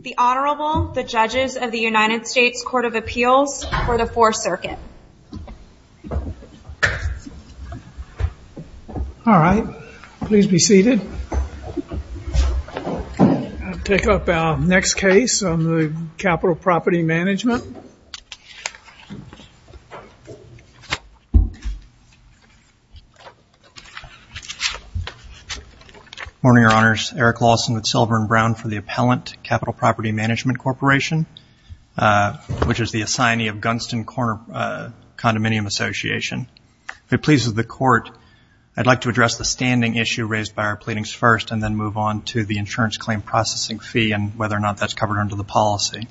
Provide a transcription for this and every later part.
The Honorable, the Judges of the United States Court of Appeals for the 4th Circuit. All right. Please be seated. I'll pick up our next case on the Capital Property Management. Morning, Your Honors. Eric Lawson with Silver and Brown for the Appellant Capital Property Management Corporation, which is the assignee of Gunston Corner Condominium Association. If it pleases the Court, I'd like to address the standing issue raised by our pleadings first and then move on to the insurance claim processing fee and whether or not that's covered under the policy.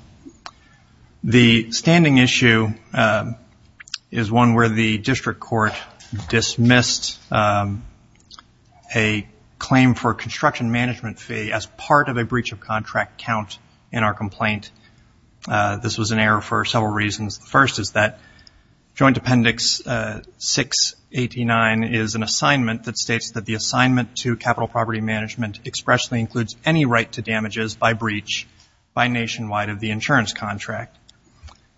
The standing issue is one where the district court dismissed a claim for a construction management fee as part of a breach of contract count in our complaint. This was an error for several reasons. The first is that Joint Appendix 689 is an assignment that states that the assignment to Capital Property Management expressly includes any right to damages by breach by Nationwide of the insurance contract.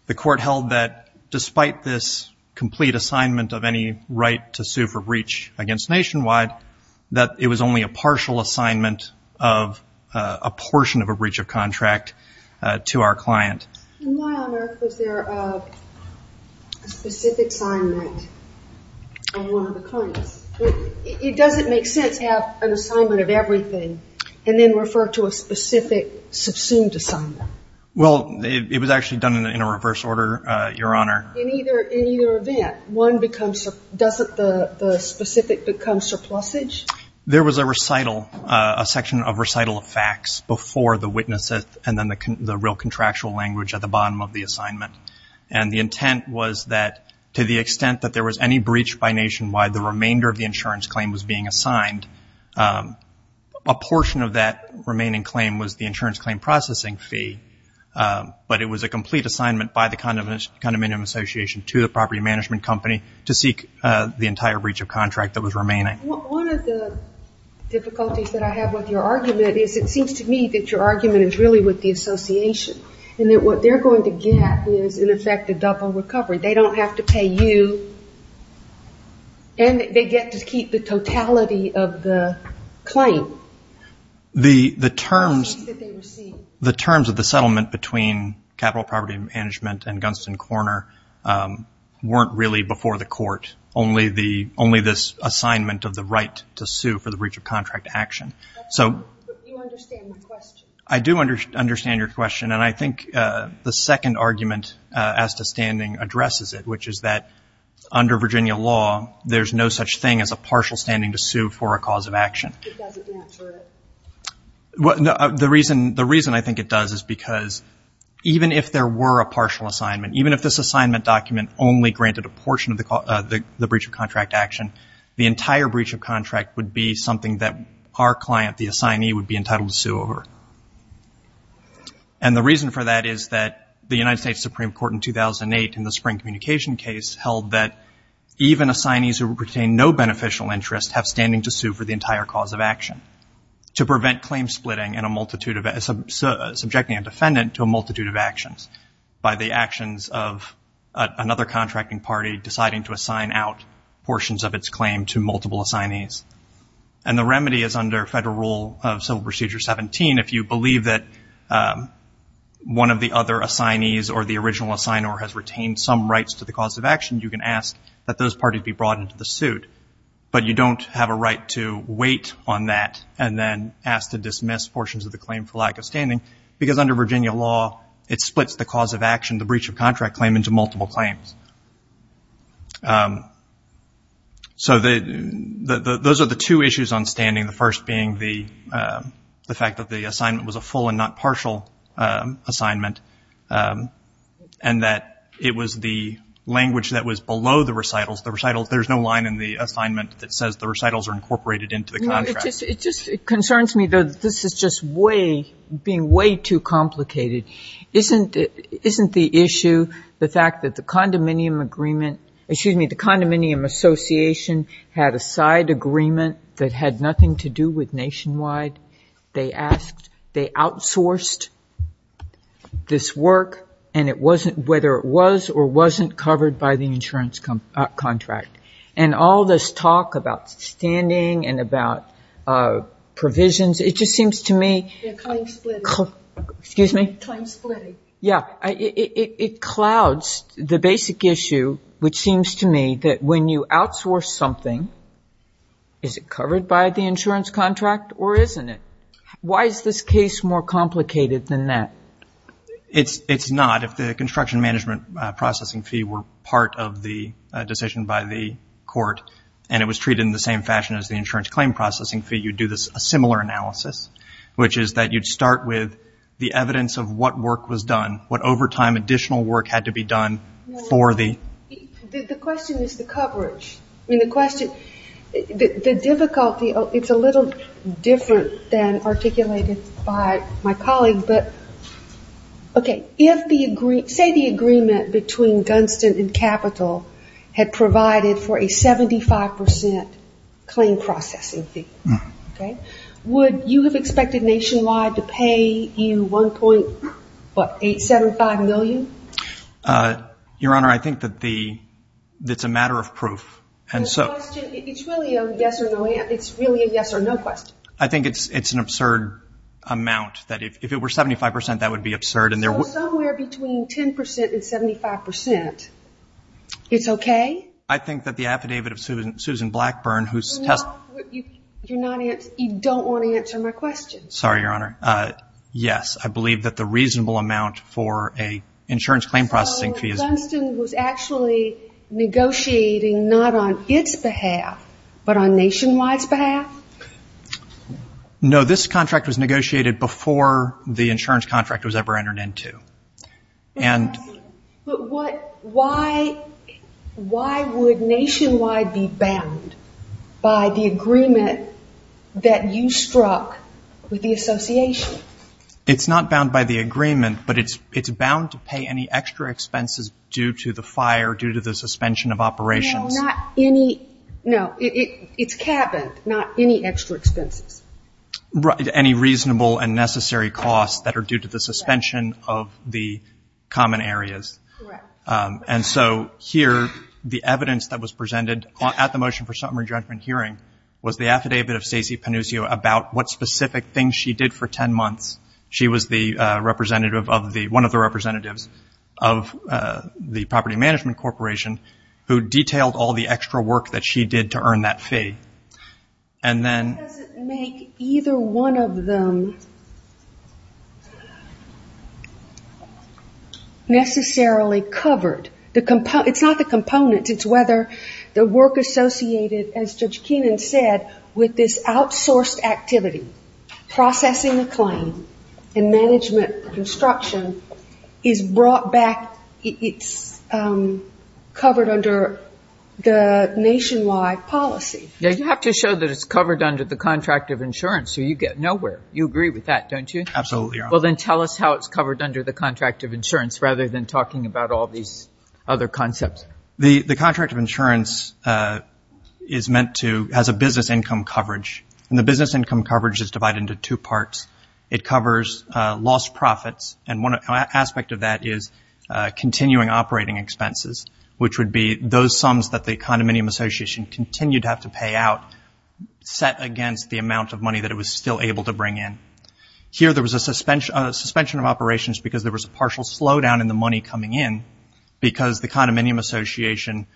The Court held that despite this complete assignment of any right to sue for breach against Nationwide, that it was only a partial assignment of a portion of a breach of contract to our client. My Honor, was there a specific assignment on one of the claims? It doesn't make sense to have an assignment of everything and then refer to a specific subsumed assignment. Well, it was actually done in a reverse order, Your Honor. In either event, doesn't the specific become surplusage? There was a recital, a section of recital of facts before the witnesses and then the real contractual language at the bottom of the assignment. And the intent was that to the extent that there was any breach by Nationwide, the remainder of the insurance claim was being assigned. A portion of that remaining claim was the insurance claim processing fee, but it was a complete assignment by the Condominium Association to the property management company to seek the entire breach of contract that was remaining. One of the difficulties that I have with your argument is it seems to me that your argument is really with the Association and that what they're going to get is, in effect, a double recovery. They don't have to pay you and they get to keep the totality of the claim. The terms of the settlement between Capital Property Management and Gunston Corner weren't really before the Court. Only this assignment of the right to sue for the breach of contract action. You understand my question. I do understand your question. And I think the second argument as to standing addresses it, which is that under Virginia law there's no such thing as a partial standing to sue for a cause of action. It doesn't answer it. The reason I think it does is because even if there were a partial assignment, even if this assignment document only granted a portion of the breach of contract action, the entire breach of contract would be something that our client, the assignee, would be entitled to sue over. And the reason for that is that the United States Supreme Court in 2008 in the spring communication case held that even assignees who would pertain no beneficial interest have standing to sue for the entire cause of action. To prevent claim splitting and subjecting a defendant to a multitude of actions by the actions of another contracting party deciding to assign out portions of its claim to multiple assignees. And the remedy is under Federal Rule of Civil Procedure 17, if you believe that one of the other assignees or the original assigner has retained some rights to the cause of action, you can ask that those parties be brought into the suit. But you don't have a right to wait on that and then ask to dismiss portions of the claim for lack of standing because under Virginia law it splits the cause of action, the breach of contract claim, into multiple claims. So those are the two issues on standing. The first being the fact that the assignment was a full and not partial assignment and that it was the language that was below the recitals. The recitals, there's no line in the assignment that says the recitals are incorporated into the contract. It just concerns me, though, that this is just way, being way too complicated. Isn't the issue the fact that the condominium agreement, excuse me, the condominium association had a side agreement that had nothing to do with Nationwide? They asked, they outsourced this work and it wasn't, whether it was or wasn't covered by the insurance contract. And all this talk about standing and about provisions, it just seems to me. Time splitting. Excuse me? Time splitting. Yeah. It clouds the basic issue which seems to me that when you outsource something, is it covered by the insurance contract or isn't it? Why is this case more complicated than that? It's not. If the construction management processing fee were part of the decision by the court and it was treated in the same fashion as the insurance claim processing fee, you'd do a similar analysis, which is that you'd start with the evidence of what work was done, what overtime additional work had to be done for the. The question is the coverage. I mean, the question, the difficulty, it's a little different than articulated by my colleague, but, okay, if the, say the agreement between Gunston and Capital had provided for a 75% claim processing fee, okay, would you have expected Nationwide to pay you 1.875 million? Your Honor, I think that the, it's a matter of proof. It's really a yes or no question. I think it's an absurd amount, that if it were 75%, that would be absurd. So somewhere between 10% and 75%, it's okay? I think that the affidavit of Susan Blackburn, who's test. You don't want to answer my question. Sorry, Your Honor. Yes, I believe that the reasonable amount for an insurance claim processing fee is. So Gunston was actually negotiating not on its behalf, but on Nationwide's behalf? No, this contract was negotiated before the insurance contract was ever entered into. But why would Nationwide be bound by the agreement that you struck with the association? It's not bound by the agreement, but it's bound to pay any extra expenses due to the fire, due to the suspension of operations. No, not any. No, it's cabin, not any extra expenses. Any reasonable and necessary costs that are due to the suspension of the common areas. Correct. And so here, the evidence that was presented at the motion for summary judgment hearing was the affidavit of Stacey Panuccio about what specific things she did for 10 months. She was one of the representatives of the property management corporation who detailed all the extra work that she did to earn that fee. And then. Why does it make either one of them necessarily covered? It's not the component. It's whether the work associated, as Judge Keenan said, with this outsourced activity, processing the claim and management construction is brought back, it's covered under the Nationwide policy. You have to show that it's covered under the contract of insurance so you get nowhere. You agree with that, don't you? Absolutely. Well, then tell us how it's covered under the contract of insurance rather than talking about all these other concepts. The contract of insurance has a business income coverage, and the business income coverage is divided into two parts. It covers lost profits, and one aspect of that is continuing operating expenses, which would be those sums that the condominium association continued to have to pay out, set against the amount of money that it was still able to bring in. Here there was a suspension of operations because there was a partial slowdown in the money coming in because the condominium association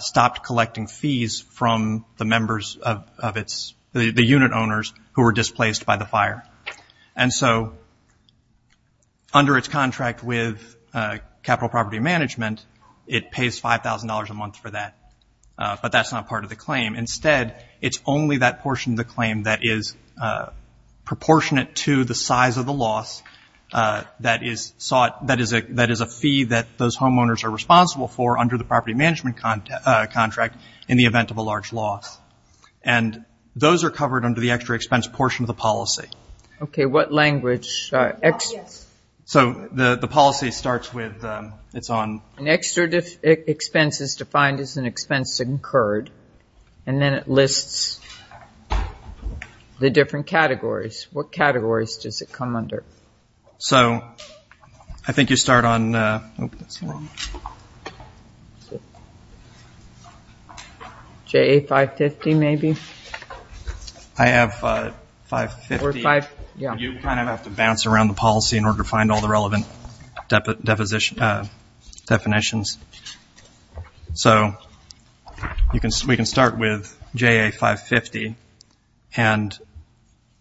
stopped collecting fees from the unit owners who were displaced by the fire. And so under its contract with Capital Property Management, it pays $5,000 a month for that, but that's not part of the claim. Instead, it's only that portion of the claim that is proportionate to the size of the loss that is a fee that those homeowners are responsible for under the property management contract in the event of a large loss. And those are covered under the extra expense portion of the policy. Okay, what language? Yes. So the policy starts with, it's on. An extra expense is defined as an expense incurred, and then it lists the different categories. What categories does it come under? So I think you start on JA-550 maybe. I have 550. You kind of have to bounce around the policy in order to find all the relevant definitions. So we can start with JA-550, and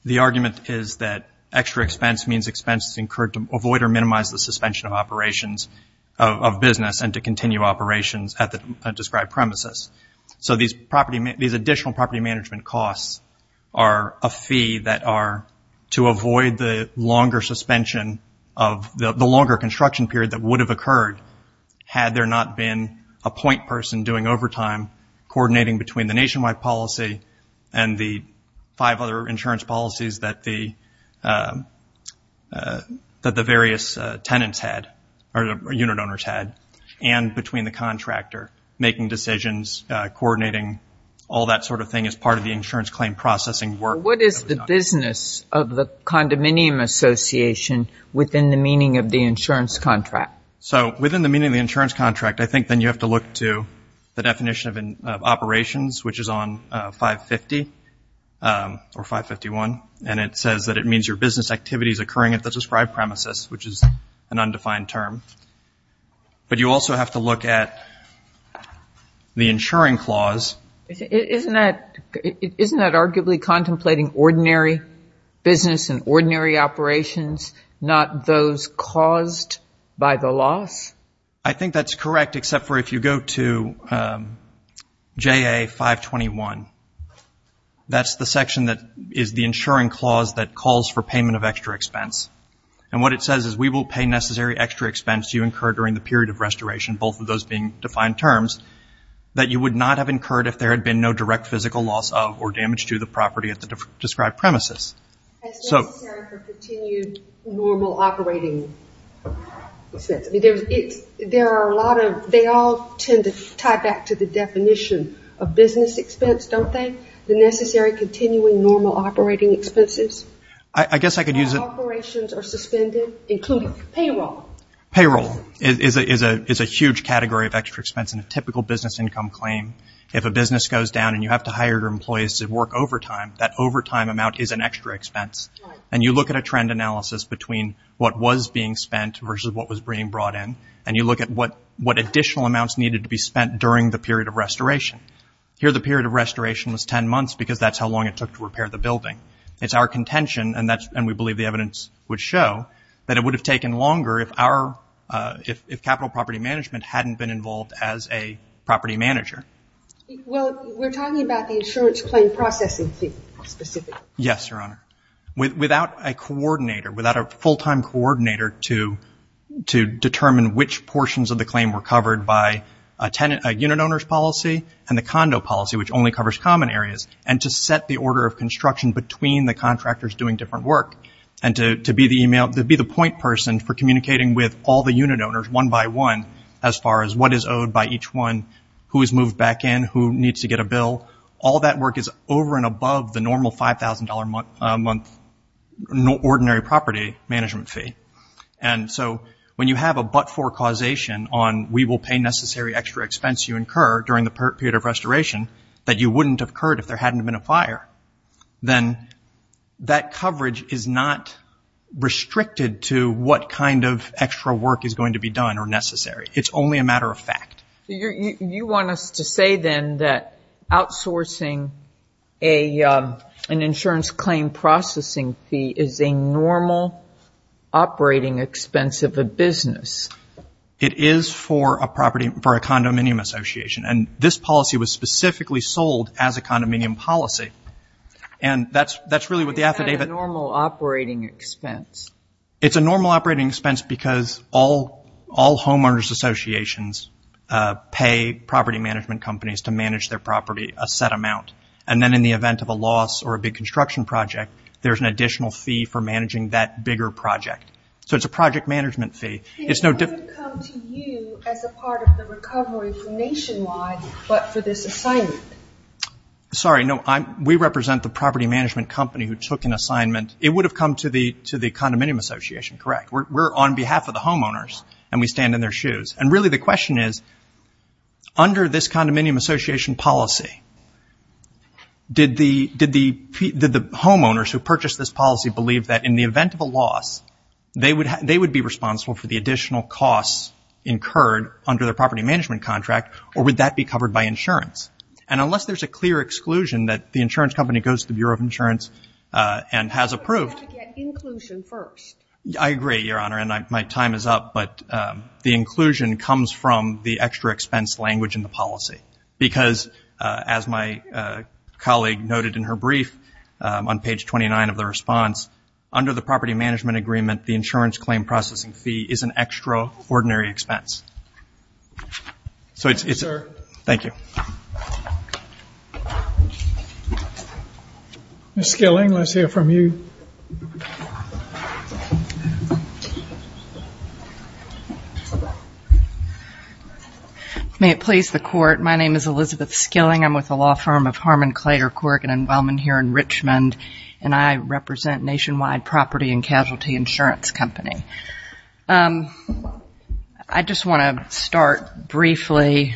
the argument is that extra expense means expenses incurred to avoid or minimize the suspension of operations of business and to continue operations at the described premises. So these additional property management costs are a fee that are to avoid the longer suspension, of the longer construction period that would have occurred had there not been a point person doing overtime coordinating between the nationwide policy and the five other insurance policies that the various tenants had, or unit owners had, and between the contractor making decisions, coordinating all that sort of thing as part of the insurance claim processing work. So what is the business of the condominium association within the meaning of the insurance contract? So within the meaning of the insurance contract, I think then you have to look to the definition of operations, which is on 550 or 551, and it says that it means your business activity is occurring at the described premises, which is an undefined term. But you also have to look at the insuring clause. Isn't that arguably contemplating ordinary business and ordinary operations, not those caused by the loss? I think that's correct, except for if you go to JA 521, that's the section that is the insuring clause that calls for payment of extra expense. And what it says is we will pay necessary extra expense to you incurred during the period of restoration, both of those being defined terms, that you would not have incurred if there had been no direct physical loss of or damage to the property at the described premises. That's necessary for continued normal operating expense. They all tend to tie back to the definition of business expense, don't they, the necessary continuing normal operating expenses? I guess I could use it. Operations are suspended, including payroll. Payroll is a huge category of extra expense in a typical business income claim. If a business goes down and you have to hire your employees to work overtime, that overtime amount is an extra expense. And you look at a trend analysis between what was being spent versus what was being brought in, and you look at what additional amounts needed to be spent during the period of restoration. Here the period of restoration was 10 months because that's how long it took to repair the building. It's our contention, and we believe the evidence would show, that it would have taken longer if capital property management hadn't been involved as a property manager. Well, we're talking about the insurance claim processing fee specifically. Yes, Your Honor. Without a coordinator, without a full-time coordinator to determine which portions of the claim were covered by a unit owner's policy and the condo policy, which only covers common areas, and to set the order of construction between the contractors doing different work, and to be the point person for communicating with all the unit owners, one by one, as far as what is owed by each one, who is moved back in, who needs to get a bill, all that work is over and above the normal $5,000 a month ordinary property management fee. And so when you have a but-for causation on we will pay necessary extra expense you incur during the period of restoration that you wouldn't have occurred if there hadn't been a fire, then that coverage is not restricted to what kind of extra work is going to be done or necessary. It's only a matter of fact. You want us to say then that outsourcing an insurance claim processing fee is a normal operating expense of a business. It is for a condominium association, and this policy was specifically sold as a condominium policy, and that's really what the affidavit- It's not a normal operating expense. It's a normal operating expense because all homeowners associations pay property management companies to manage their property a set amount, and then in the event of a loss or a big construction project, there's an additional fee for managing that bigger project. So it's a project management fee. It wouldn't come to you as a part of the recovery nationwide, but for this assignment? Sorry, no. We represent the property management company who took an assignment. It would have come to the condominium association, correct. We're on behalf of the homeowners, and we stand in their shoes. And really the question is, under this condominium association policy, did the homeowners who purchased this policy believe that in the event of a loss, they would be responsible for the additional costs incurred under their property management contract, or would that be covered by insurance? And unless there's a clear exclusion that the insurance company goes to the Bureau of Insurance and has approved- You have to get inclusion first. I agree, Your Honor, and my time is up, but the inclusion comes from the extra expense language in the policy because, as my colleague noted in her brief on page 29 of the response, under the property management agreement, the insurance claim processing fee is an extraordinary expense. So it's- Yes, sir. Thank you. Ms. Skilling, let's hear from you. May it please the Court. My name is Elizabeth Skilling. I'm with the law firm of Harmon Clay or Corgan & Wellman here in Richmond, and I represent Nationwide Property and Casualty Insurance Company. I just want to start briefly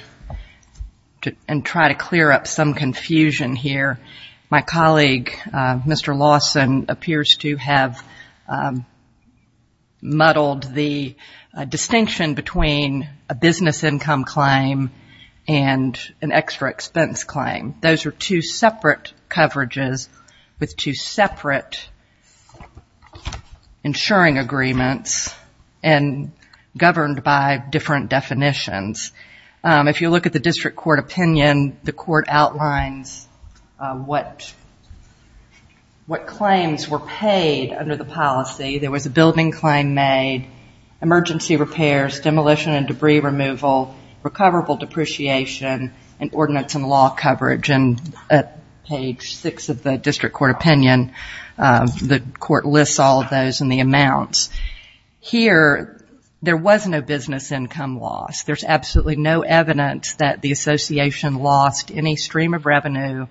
and try to clear up some confusion here. My colleague, Mr. Lawson, appears to have muddled the distinction between a business income claim and an extra expense claim. Those are two separate coverages with two separate insuring agreements and governed by different definitions. If you look at the district court opinion, the court outlines what claims were paid under the policy. There was a building claim made, emergency repairs, demolition and debris removal, recoverable depreciation, and ordinance and law coverage. And at page six of the district court opinion, the court lists all of those in the amounts. Here, there was no business income loss. There's absolutely no evidence that the association lost any stream of revenue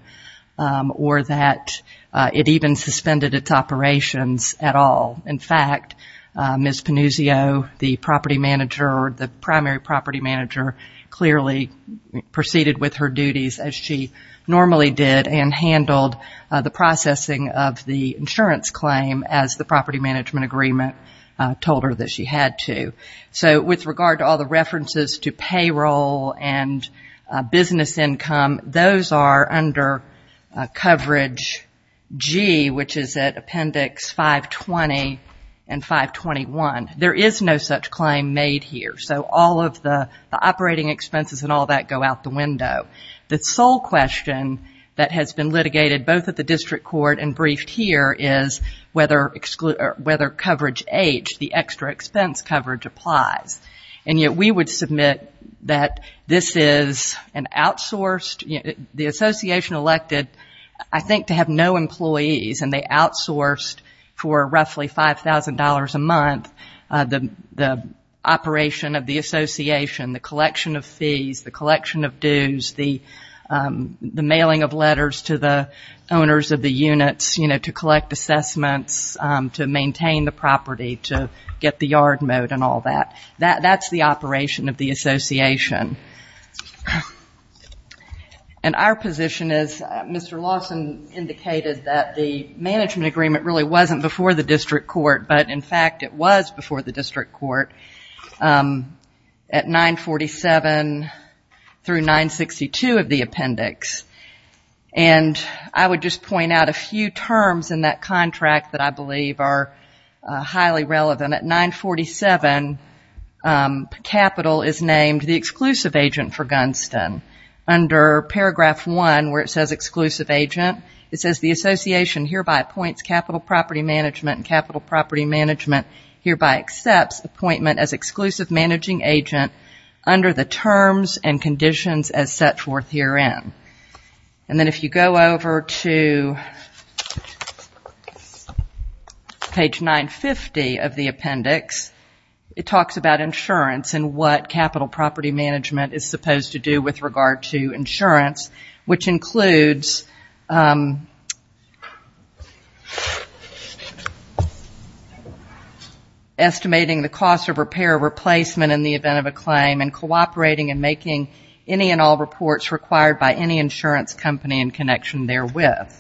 or that it even suspended its operations at all. In fact, Ms. Panuzio, the property manager or the primary property manager, clearly proceeded with her duties as she normally did and handled the processing of the insurance claim as the property management agreement told her that she had to. So with regard to all the references to payroll and business income, those are under coverage G, which is at appendix 520 and 521. There is no such claim made here. So all of the operating expenses and all that go out the window. The sole question that has been litigated both at the district court and briefed here is whether coverage H, the extra expense coverage, applies. And yet we would submit that this is an outsourced, the association elected I think to have no employees and they outsourced for roughly $5,000 a month the operation of the association, the collection of fees, the collection of dues, the mailing of letters to the owners of the units, you know, to collect assessments, to maintain the property, to get the yard mowed and all that. That's the operation of the association. And our position is Mr. Lawson indicated that the management agreement really wasn't before the district court, but in fact it was before the district court at 947 through 962 of the appendix. And I would just point out a few terms in that contract that I believe are highly relevant. At 947, capital is named the exclusive agent for Gunston. Under paragraph 1 where it says exclusive agent, it says the association hereby appoints capital property management and capital property management hereby accepts appointment as exclusive managing agent under the terms and conditions as set forth herein. And then if you go over to page 950 of the appendix, it talks about insurance and what capital property management is supposed to do with regard to insurance, which includes estimating the cost of repair or replacement in the event of a claim and cooperating and making any and all reports required by any insurance company in connection therewith.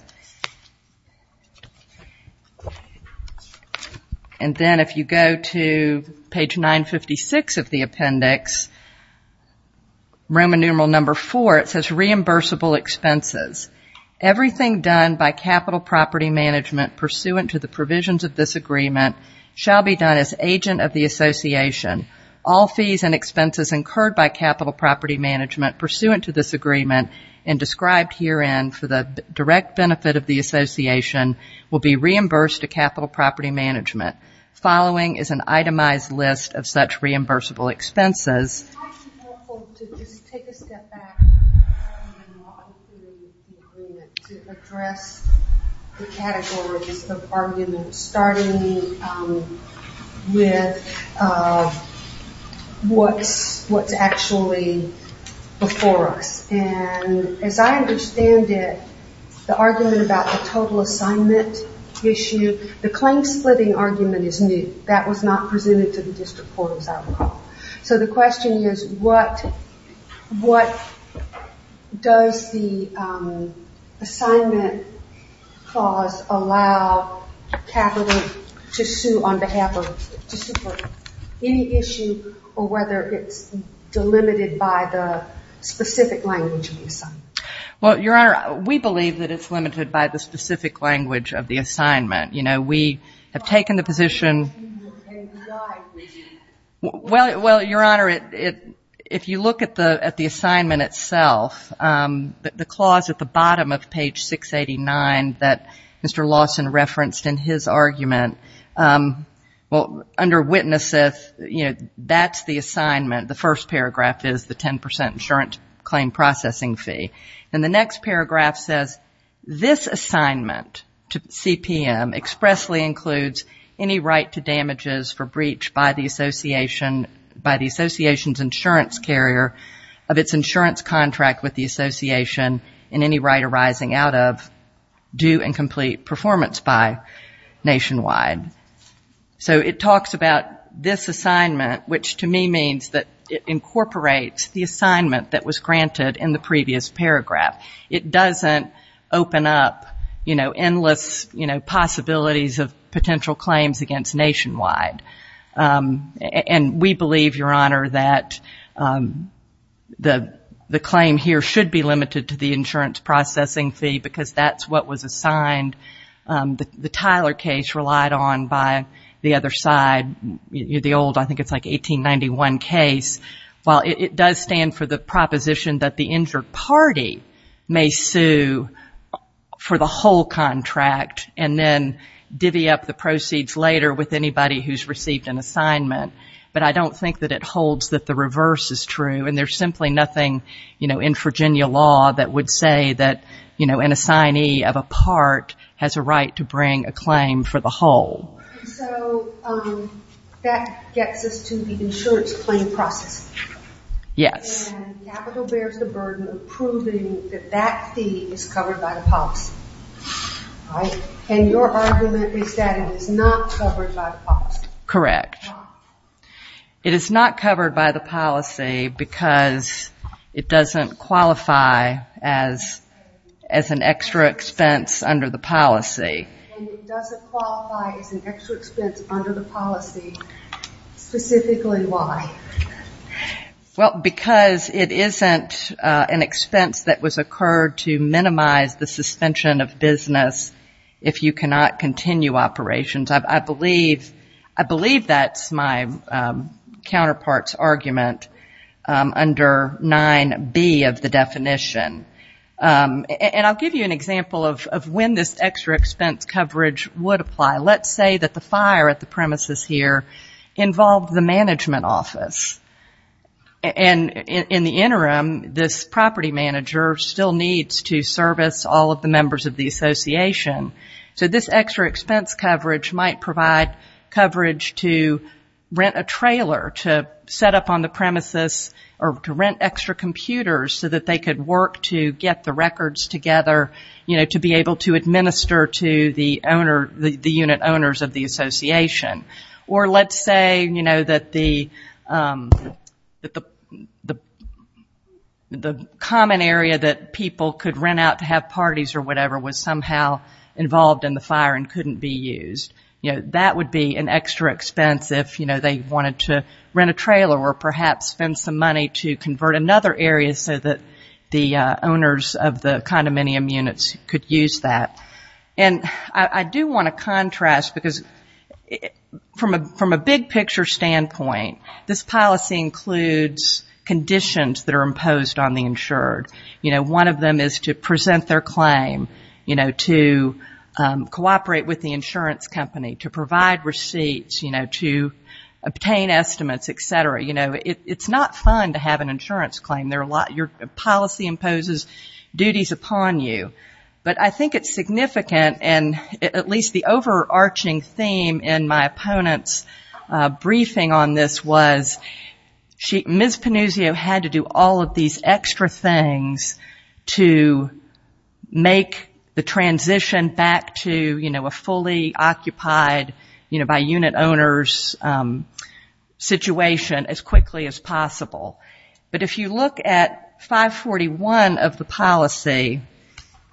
And then if you go to page 956 of the appendix, Roman numeral number 4, it says reimbursement of property. Everything done by capital property management pursuant to the provisions of this agreement shall be done as agent of the association. All fees and expenses incurred by capital property management pursuant to this agreement and described herein for the direct benefit of the association will be reimbursed to capital property management. Following is an itemized list of such reimbursable expenses. I'll continue with the agreement to address the categories of arguments starting with what's actually before us. And as I understand it, the argument about the total assignment issue, the claim splitting argument is new. That was not presented to the district court as I recall. Does the assignment clause allow capital to sue on behalf of, to sue for any issue or whether it's delimited by the specific language of the assignment? Well, Your Honor, we believe that it's limited by the specific language of the assignment. You know, we have taken the position. Well, Your Honor, if you look at the assignment itself, the clause at the bottom of page 689 that Mr. Lawson referenced in his argument, well, under witnesses, you know, that's the assignment. The first paragraph is the 10 percent insurance claim processing fee. And the next paragraph says this assignment to CPM expressly includes any right to damages for breach by the association's insurance carrier of its insurance contract with the association and any right arising out of due and complete performance by nationwide. So it talks about this assignment, which to me means that it incorporates the assignment that was granted in the previous paragraph. It doesn't open up, you know, endless possibilities of potential claims against nationwide. And we believe, Your Honor, that the claim here should be limited to the insurance processing fee because that's what was assigned. The Tyler case relied on by the other side, the old, I think it's like 1891 case. Well, it does stand for the proposition that the injured party may sue for the whole contract and then divvy up the proceeds later with anybody who's received an assignment. But I don't think that it holds that the reverse is true. And there's simply nothing, you know, in Virginia law that would say that, you know, an assignee of a part has a right to bring a claim for the whole. And so that gets us to the insurance claim process. And capital bears the burden of proving that that fee is covered by the policy. And your argument is that it is not covered by the policy. Correct. It is not covered by the policy because it doesn't qualify as an extra expense under the policy. And it doesn't qualify as an extra expense under the policy. Specifically why? Well, because it isn't an expense that was occurred to minimize the suspension of business if you cannot continue operations. I believe that's my counterpart's argument under 9B of the definition. And I'll give you an example of when this extra expense coverage would apply. Let's say that the fire at the premises here involved the management office. And in the interim, this property manager still needs to service all of the members of the association. So this extra expense coverage might provide coverage to rent a trailer to set up on the premises or to rent extra computers so that they could work to get the records together to be able to administer to the unit owners of the association. Or let's say that the common area that people could rent out to have parties or whatever was somehow involved in the fire and couldn't be used. That would be an extra expense if they wanted to rent a trailer or perhaps spend some money to convert another area so that the owner could use that. And I do want to contrast, because from a big picture standpoint, this policy includes conditions that are imposed on the insured. One of them is to present their claim, to cooperate with the insurance company, to provide receipts, to obtain estimates, et cetera. It's not fun to have an insurance claim. Your policy imposes duties upon you. But I think it's significant, and at least the overarching theme in my opponent's briefing on this was Ms. Panuzio had to do all of these extra things to make the transition back to a fully occupied by unit owners situation. But if you look at 541 of the policy,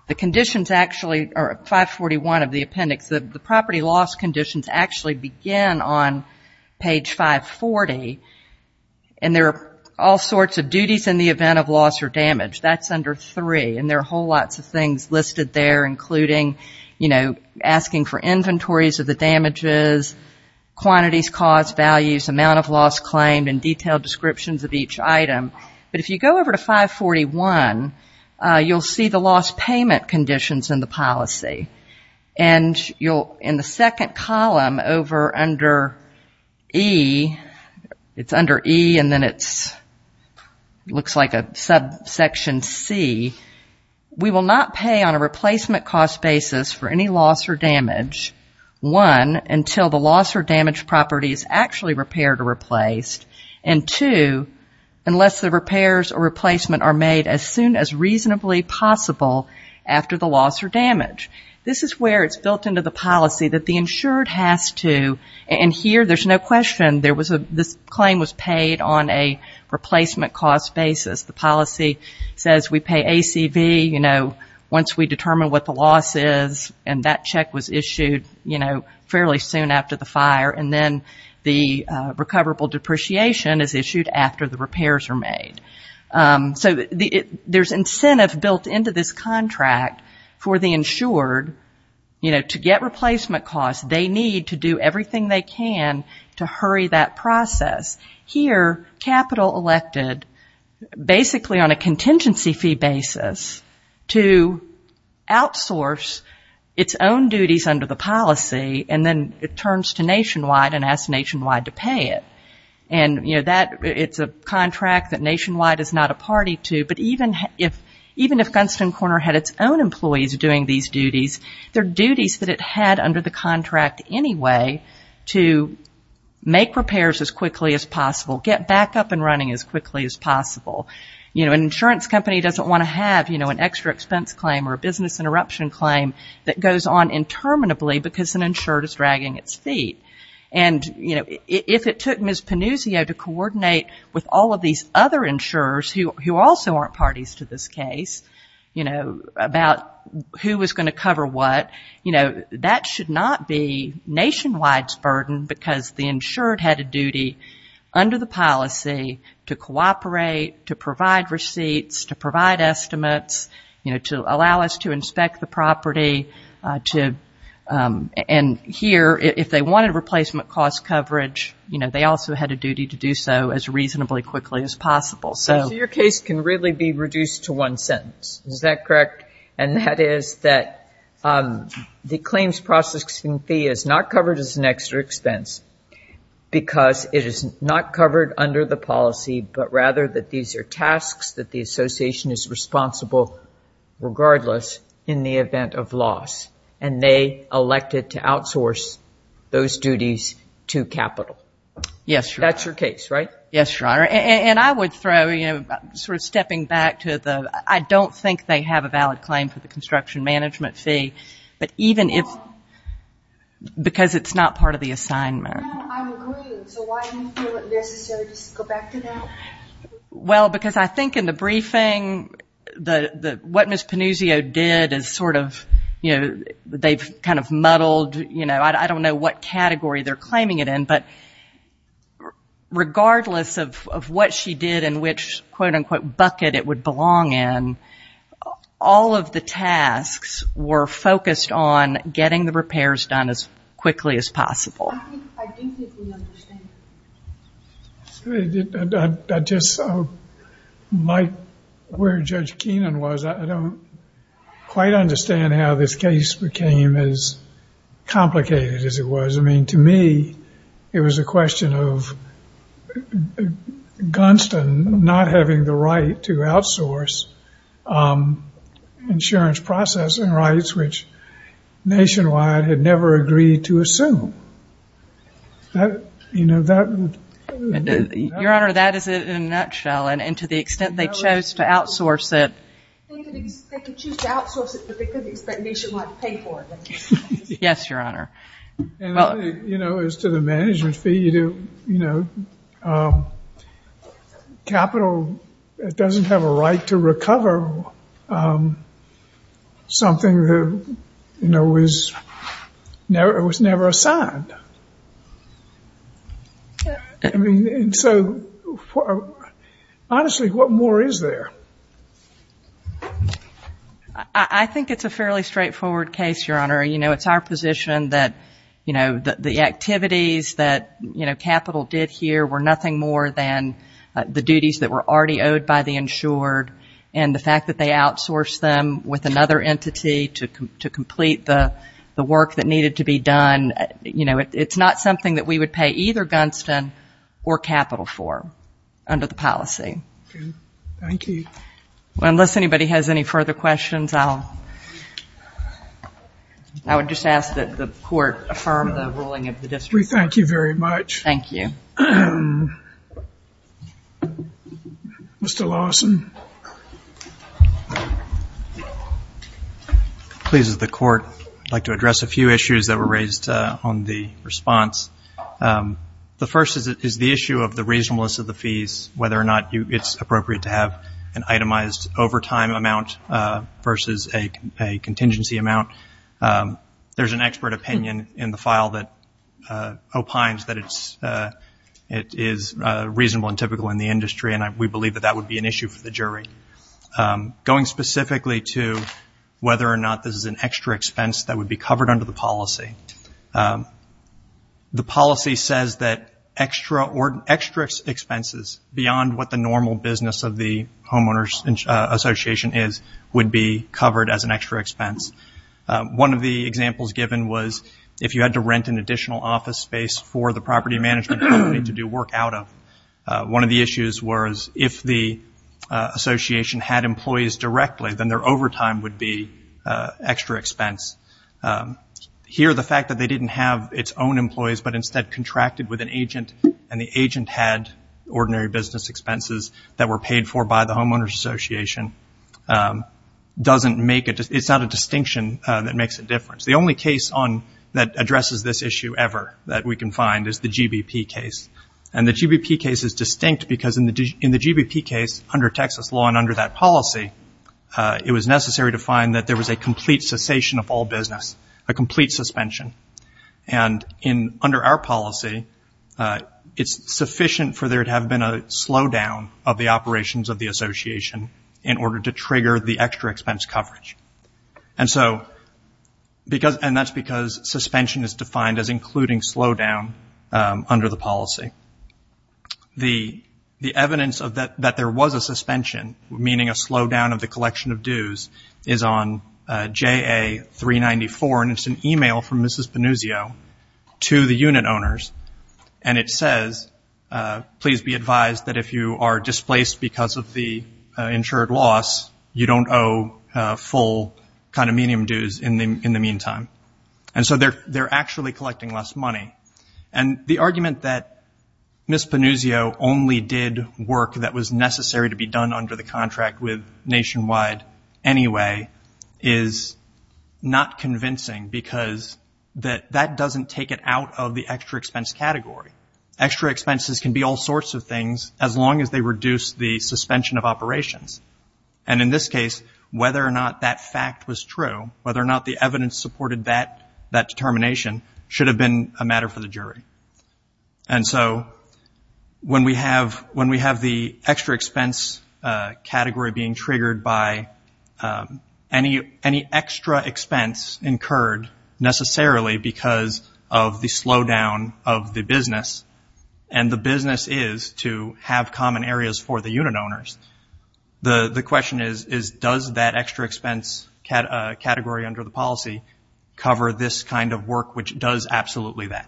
the conditions actually, or 541 of the appendix, the property loss conditions actually begin on page 540. And there are all sorts of duties in the event of loss or damage. That's under three. And there are whole lots of things listed there, including asking for inventories of the damages, quantities, cost, values, amount of loss claimed, and detailed descriptions of each item. But if you go over to 541, you'll see the loss payment conditions in the policy. And in the second column over under E, it's under E and then it looks like a subsection C, we will not pay on a replacement cost basis for any loss or damage, one, until the loss or damage property is actually repaired or replaced. And two, unless the repairs or replacement are made as soon as reasonably possible after the loss or damage. This is where it's built into the policy that the insured has to, and here there's no question, this claim was paid on a replacement cost basis. The policy says we pay ACV, you know, once we determine what the loss is, and that check was issued, you know, fairly soon after the fire, and then the recoverable depreciation was issued. So there's incentive built into this contract for the insured, you know, to get replacement costs. They need to do everything they can to hurry that process. Here, capital elected basically on a contingency fee basis to outsource its own duties under the policy, and then it turns to Nationwide and asks Nationwide to pay it. And, you know, that, it's a contract that Nationwide is not a party to, but even if Gunston Corner had its own employees doing these duties, their duties that it had under the contract anyway to make repairs as quickly as possible, get back up and running as quickly as possible. You know, an insurance company doesn't want to have, you know, an extra expense claim or a business interruption claim that goes on interminably because an insured is dragging its feet. And, you know, if it took Ms. Panuzio to coordinate with all of these other insurers, who also aren't parties to this case, you know, about who was going to cover what, you know, that should not be Nationwide's burden because the insured had a duty under the policy to cooperate, to provide receipts, to provide estimates, you know, to allow us to inspect the property, to, and here, if they wanted replacement costs, they would have to pay Nationwide. And if they wanted replacement cost coverage, you know, they also had a duty to do so as reasonably quickly as possible. So your case can really be reduced to one sentence, is that correct, and that is that the claims processing fee is not covered as an extra expense because it is not covered under the policy, but rather that these are tasks that the association is responsible regardless in the event of loss. And they elected to outsource those duties to capital. Yes, Your Honor. That's your case, right? Yes, Your Honor. And I would throw, you know, sort of stepping back to the, I don't think they have a valid claim for the construction management fee, but even if, because it's not part of the assignment. No, I'm agreeing. So why do you feel it necessary to go back to that? Well, because I think in the briefing, what Ms. Panuzio did is sort of, you know, they've kind of muddled, you know, I don't know what category they're claiming it in, but regardless of what she did and which, quote, unquote, bucket it would belong in, all of the tasks were focused on getting the repairs done as quickly as possible. I do think we understand. I just, like where Judge Keenan was, I don't quite understand how this case became as complicated as it was. I mean, to me, it was a question of Gunston not having the right to outsource insurance processing rights, which Nationwide had never agreed to assume. You know, that... Your Honor, that is it in a nutshell. And to the extent they chose to outsource it... They could choose to outsource it, but they couldn't expect Nationwide to pay for it. Yes, Your Honor. You know, as to the management fee, you know, capital doesn't have a right to recover something that, you know, was never assigned. I mean, and so... Honestly, what more is there? I think it's a fairly straightforward case, Your Honor. You know, it's our position that, you know, the activities that, you know, capital did here were nothing more than the duties that were already owed by the insured. And the fact that they outsourced them with another entity to complete the work that needed to be done, you know, it's a fairly straightforward case. And it's not something that we would pay either Gunston or capital for under the policy. Thank you. Well, unless anybody has any further questions, I'll... I would just ask that the Court affirm the ruling of the district. We thank you very much. Thank you. Mr. Lawson. Please, as the Court, I'd like to address a few issues that were raised on the... The first is the issue of the reasonableness of the fees, whether or not it's appropriate to have an itemized overtime amount versus a contingency amount. There's an expert opinion in the file that opines that it is reasonable and typical in the industry, and we believe that that would be an issue for the jury. Going specifically to whether or not this is an extra expense that would be covered under the policy. The policy says that extra expenses, beyond what the normal business of the homeowners association is, would be covered as an extra expense. One of the examples given was if you had to rent an additional office space for the property management company to do work out of. One of the issues was if the association had employees directly, then their overtime would be extra expense. Here, the fact that they didn't have its own employees, but instead contracted with an agent, and the agent had ordinary business expenses that were paid for by the homeowners association, it's not a distinction that makes a difference. The only case that addresses this issue ever that we can find is the GBP case. The GBP case is distinct because in the GBP case, under Texas law and under that policy, it was necessary to find that there was a complete cessation of all business, a complete suspension, and under our policy, it's sufficient for there to have been a slowdown of the operations of the association in order to trigger the extra expense coverage, and that's because suspension is defined as including slowdown under the policy. The evidence that there was a suspension, meaning a slowdown of the collection of dues, is on J.A. 394, and it's an e-mail from Mrs. Panuzio to the unit owners, and it says, please be advised that if you are displaced because of the insured loss, you don't owe full condominium dues in the meantime. And so they're actually collecting less money. And the argument that Mrs. Panuzio only did work that was necessary to be done under the contract with Nationwide anyway is not convincing because that doesn't take it out of the extra expense category. Extra expenses can be all sorts of things, as long as they reduce the suspension of operations. And in this case, whether or not that fact was true, whether or not the evidence supported that determination, should have been a matter for the jury. And so when we have the extra expense category being triggered by any extra expense category, it's a matter for the jury. It's not expense incurred necessarily because of the slowdown of the business, and the business is to have common areas for the unit owners. The question is, does that extra expense category under the policy cover this kind of work, which does absolutely that?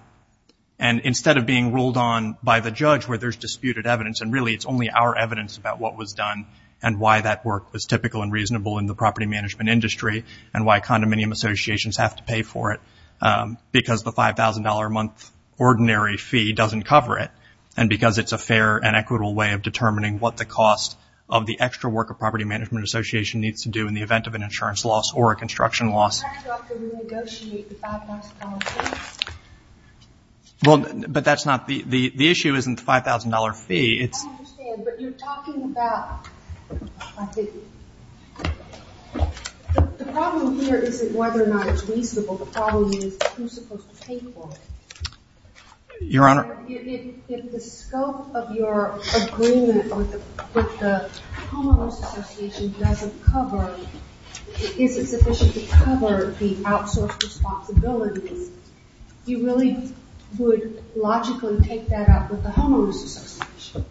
And instead of being ruled on by the judge where there's disputed evidence, and really it's only our evidence about what was done and why that work was typical and reasonable in the property management industry, and why contracts should be covered, why non-dominium associations have to pay for it, because the $5,000 a month ordinary fee doesn't cover it, and because it's a fair and equitable way of determining what the cost of the extra work a property management association needs to do in the event of an insurance loss or a construction loss. But the issue isn't the $5,000 fee. I understand, but you're talking about... The problem here isn't whether or not it's reasonable, the problem is who's supposed to pay for it. If the scope of your agreement with the homeowners association doesn't cover, if it isn't sufficient to cover the outsource responsibilities, you really would logically take that out with the homeowners association?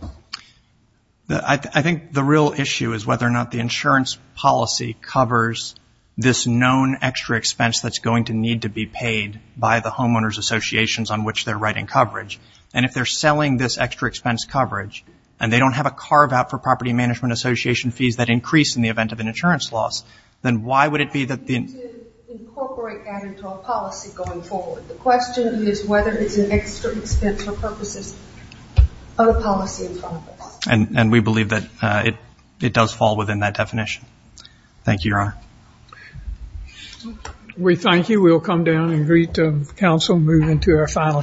I think the real issue is whether or not the insurance policy covers this known extra expense that's going to need to be paid by the homeowners associations on which they're writing coverage. And if they're selling this extra expense coverage, and they don't have a carve-out for property management association fees that increase in the event of an insurance loss, then why would it be that the... We need to incorporate that into our policy going forward. The question is whether it's an extra expense for purposes of the policy. And we believe that it does fall within that definition. Thank you, your honor. We thank you. We'll come down and greet the counsel and move into our final case.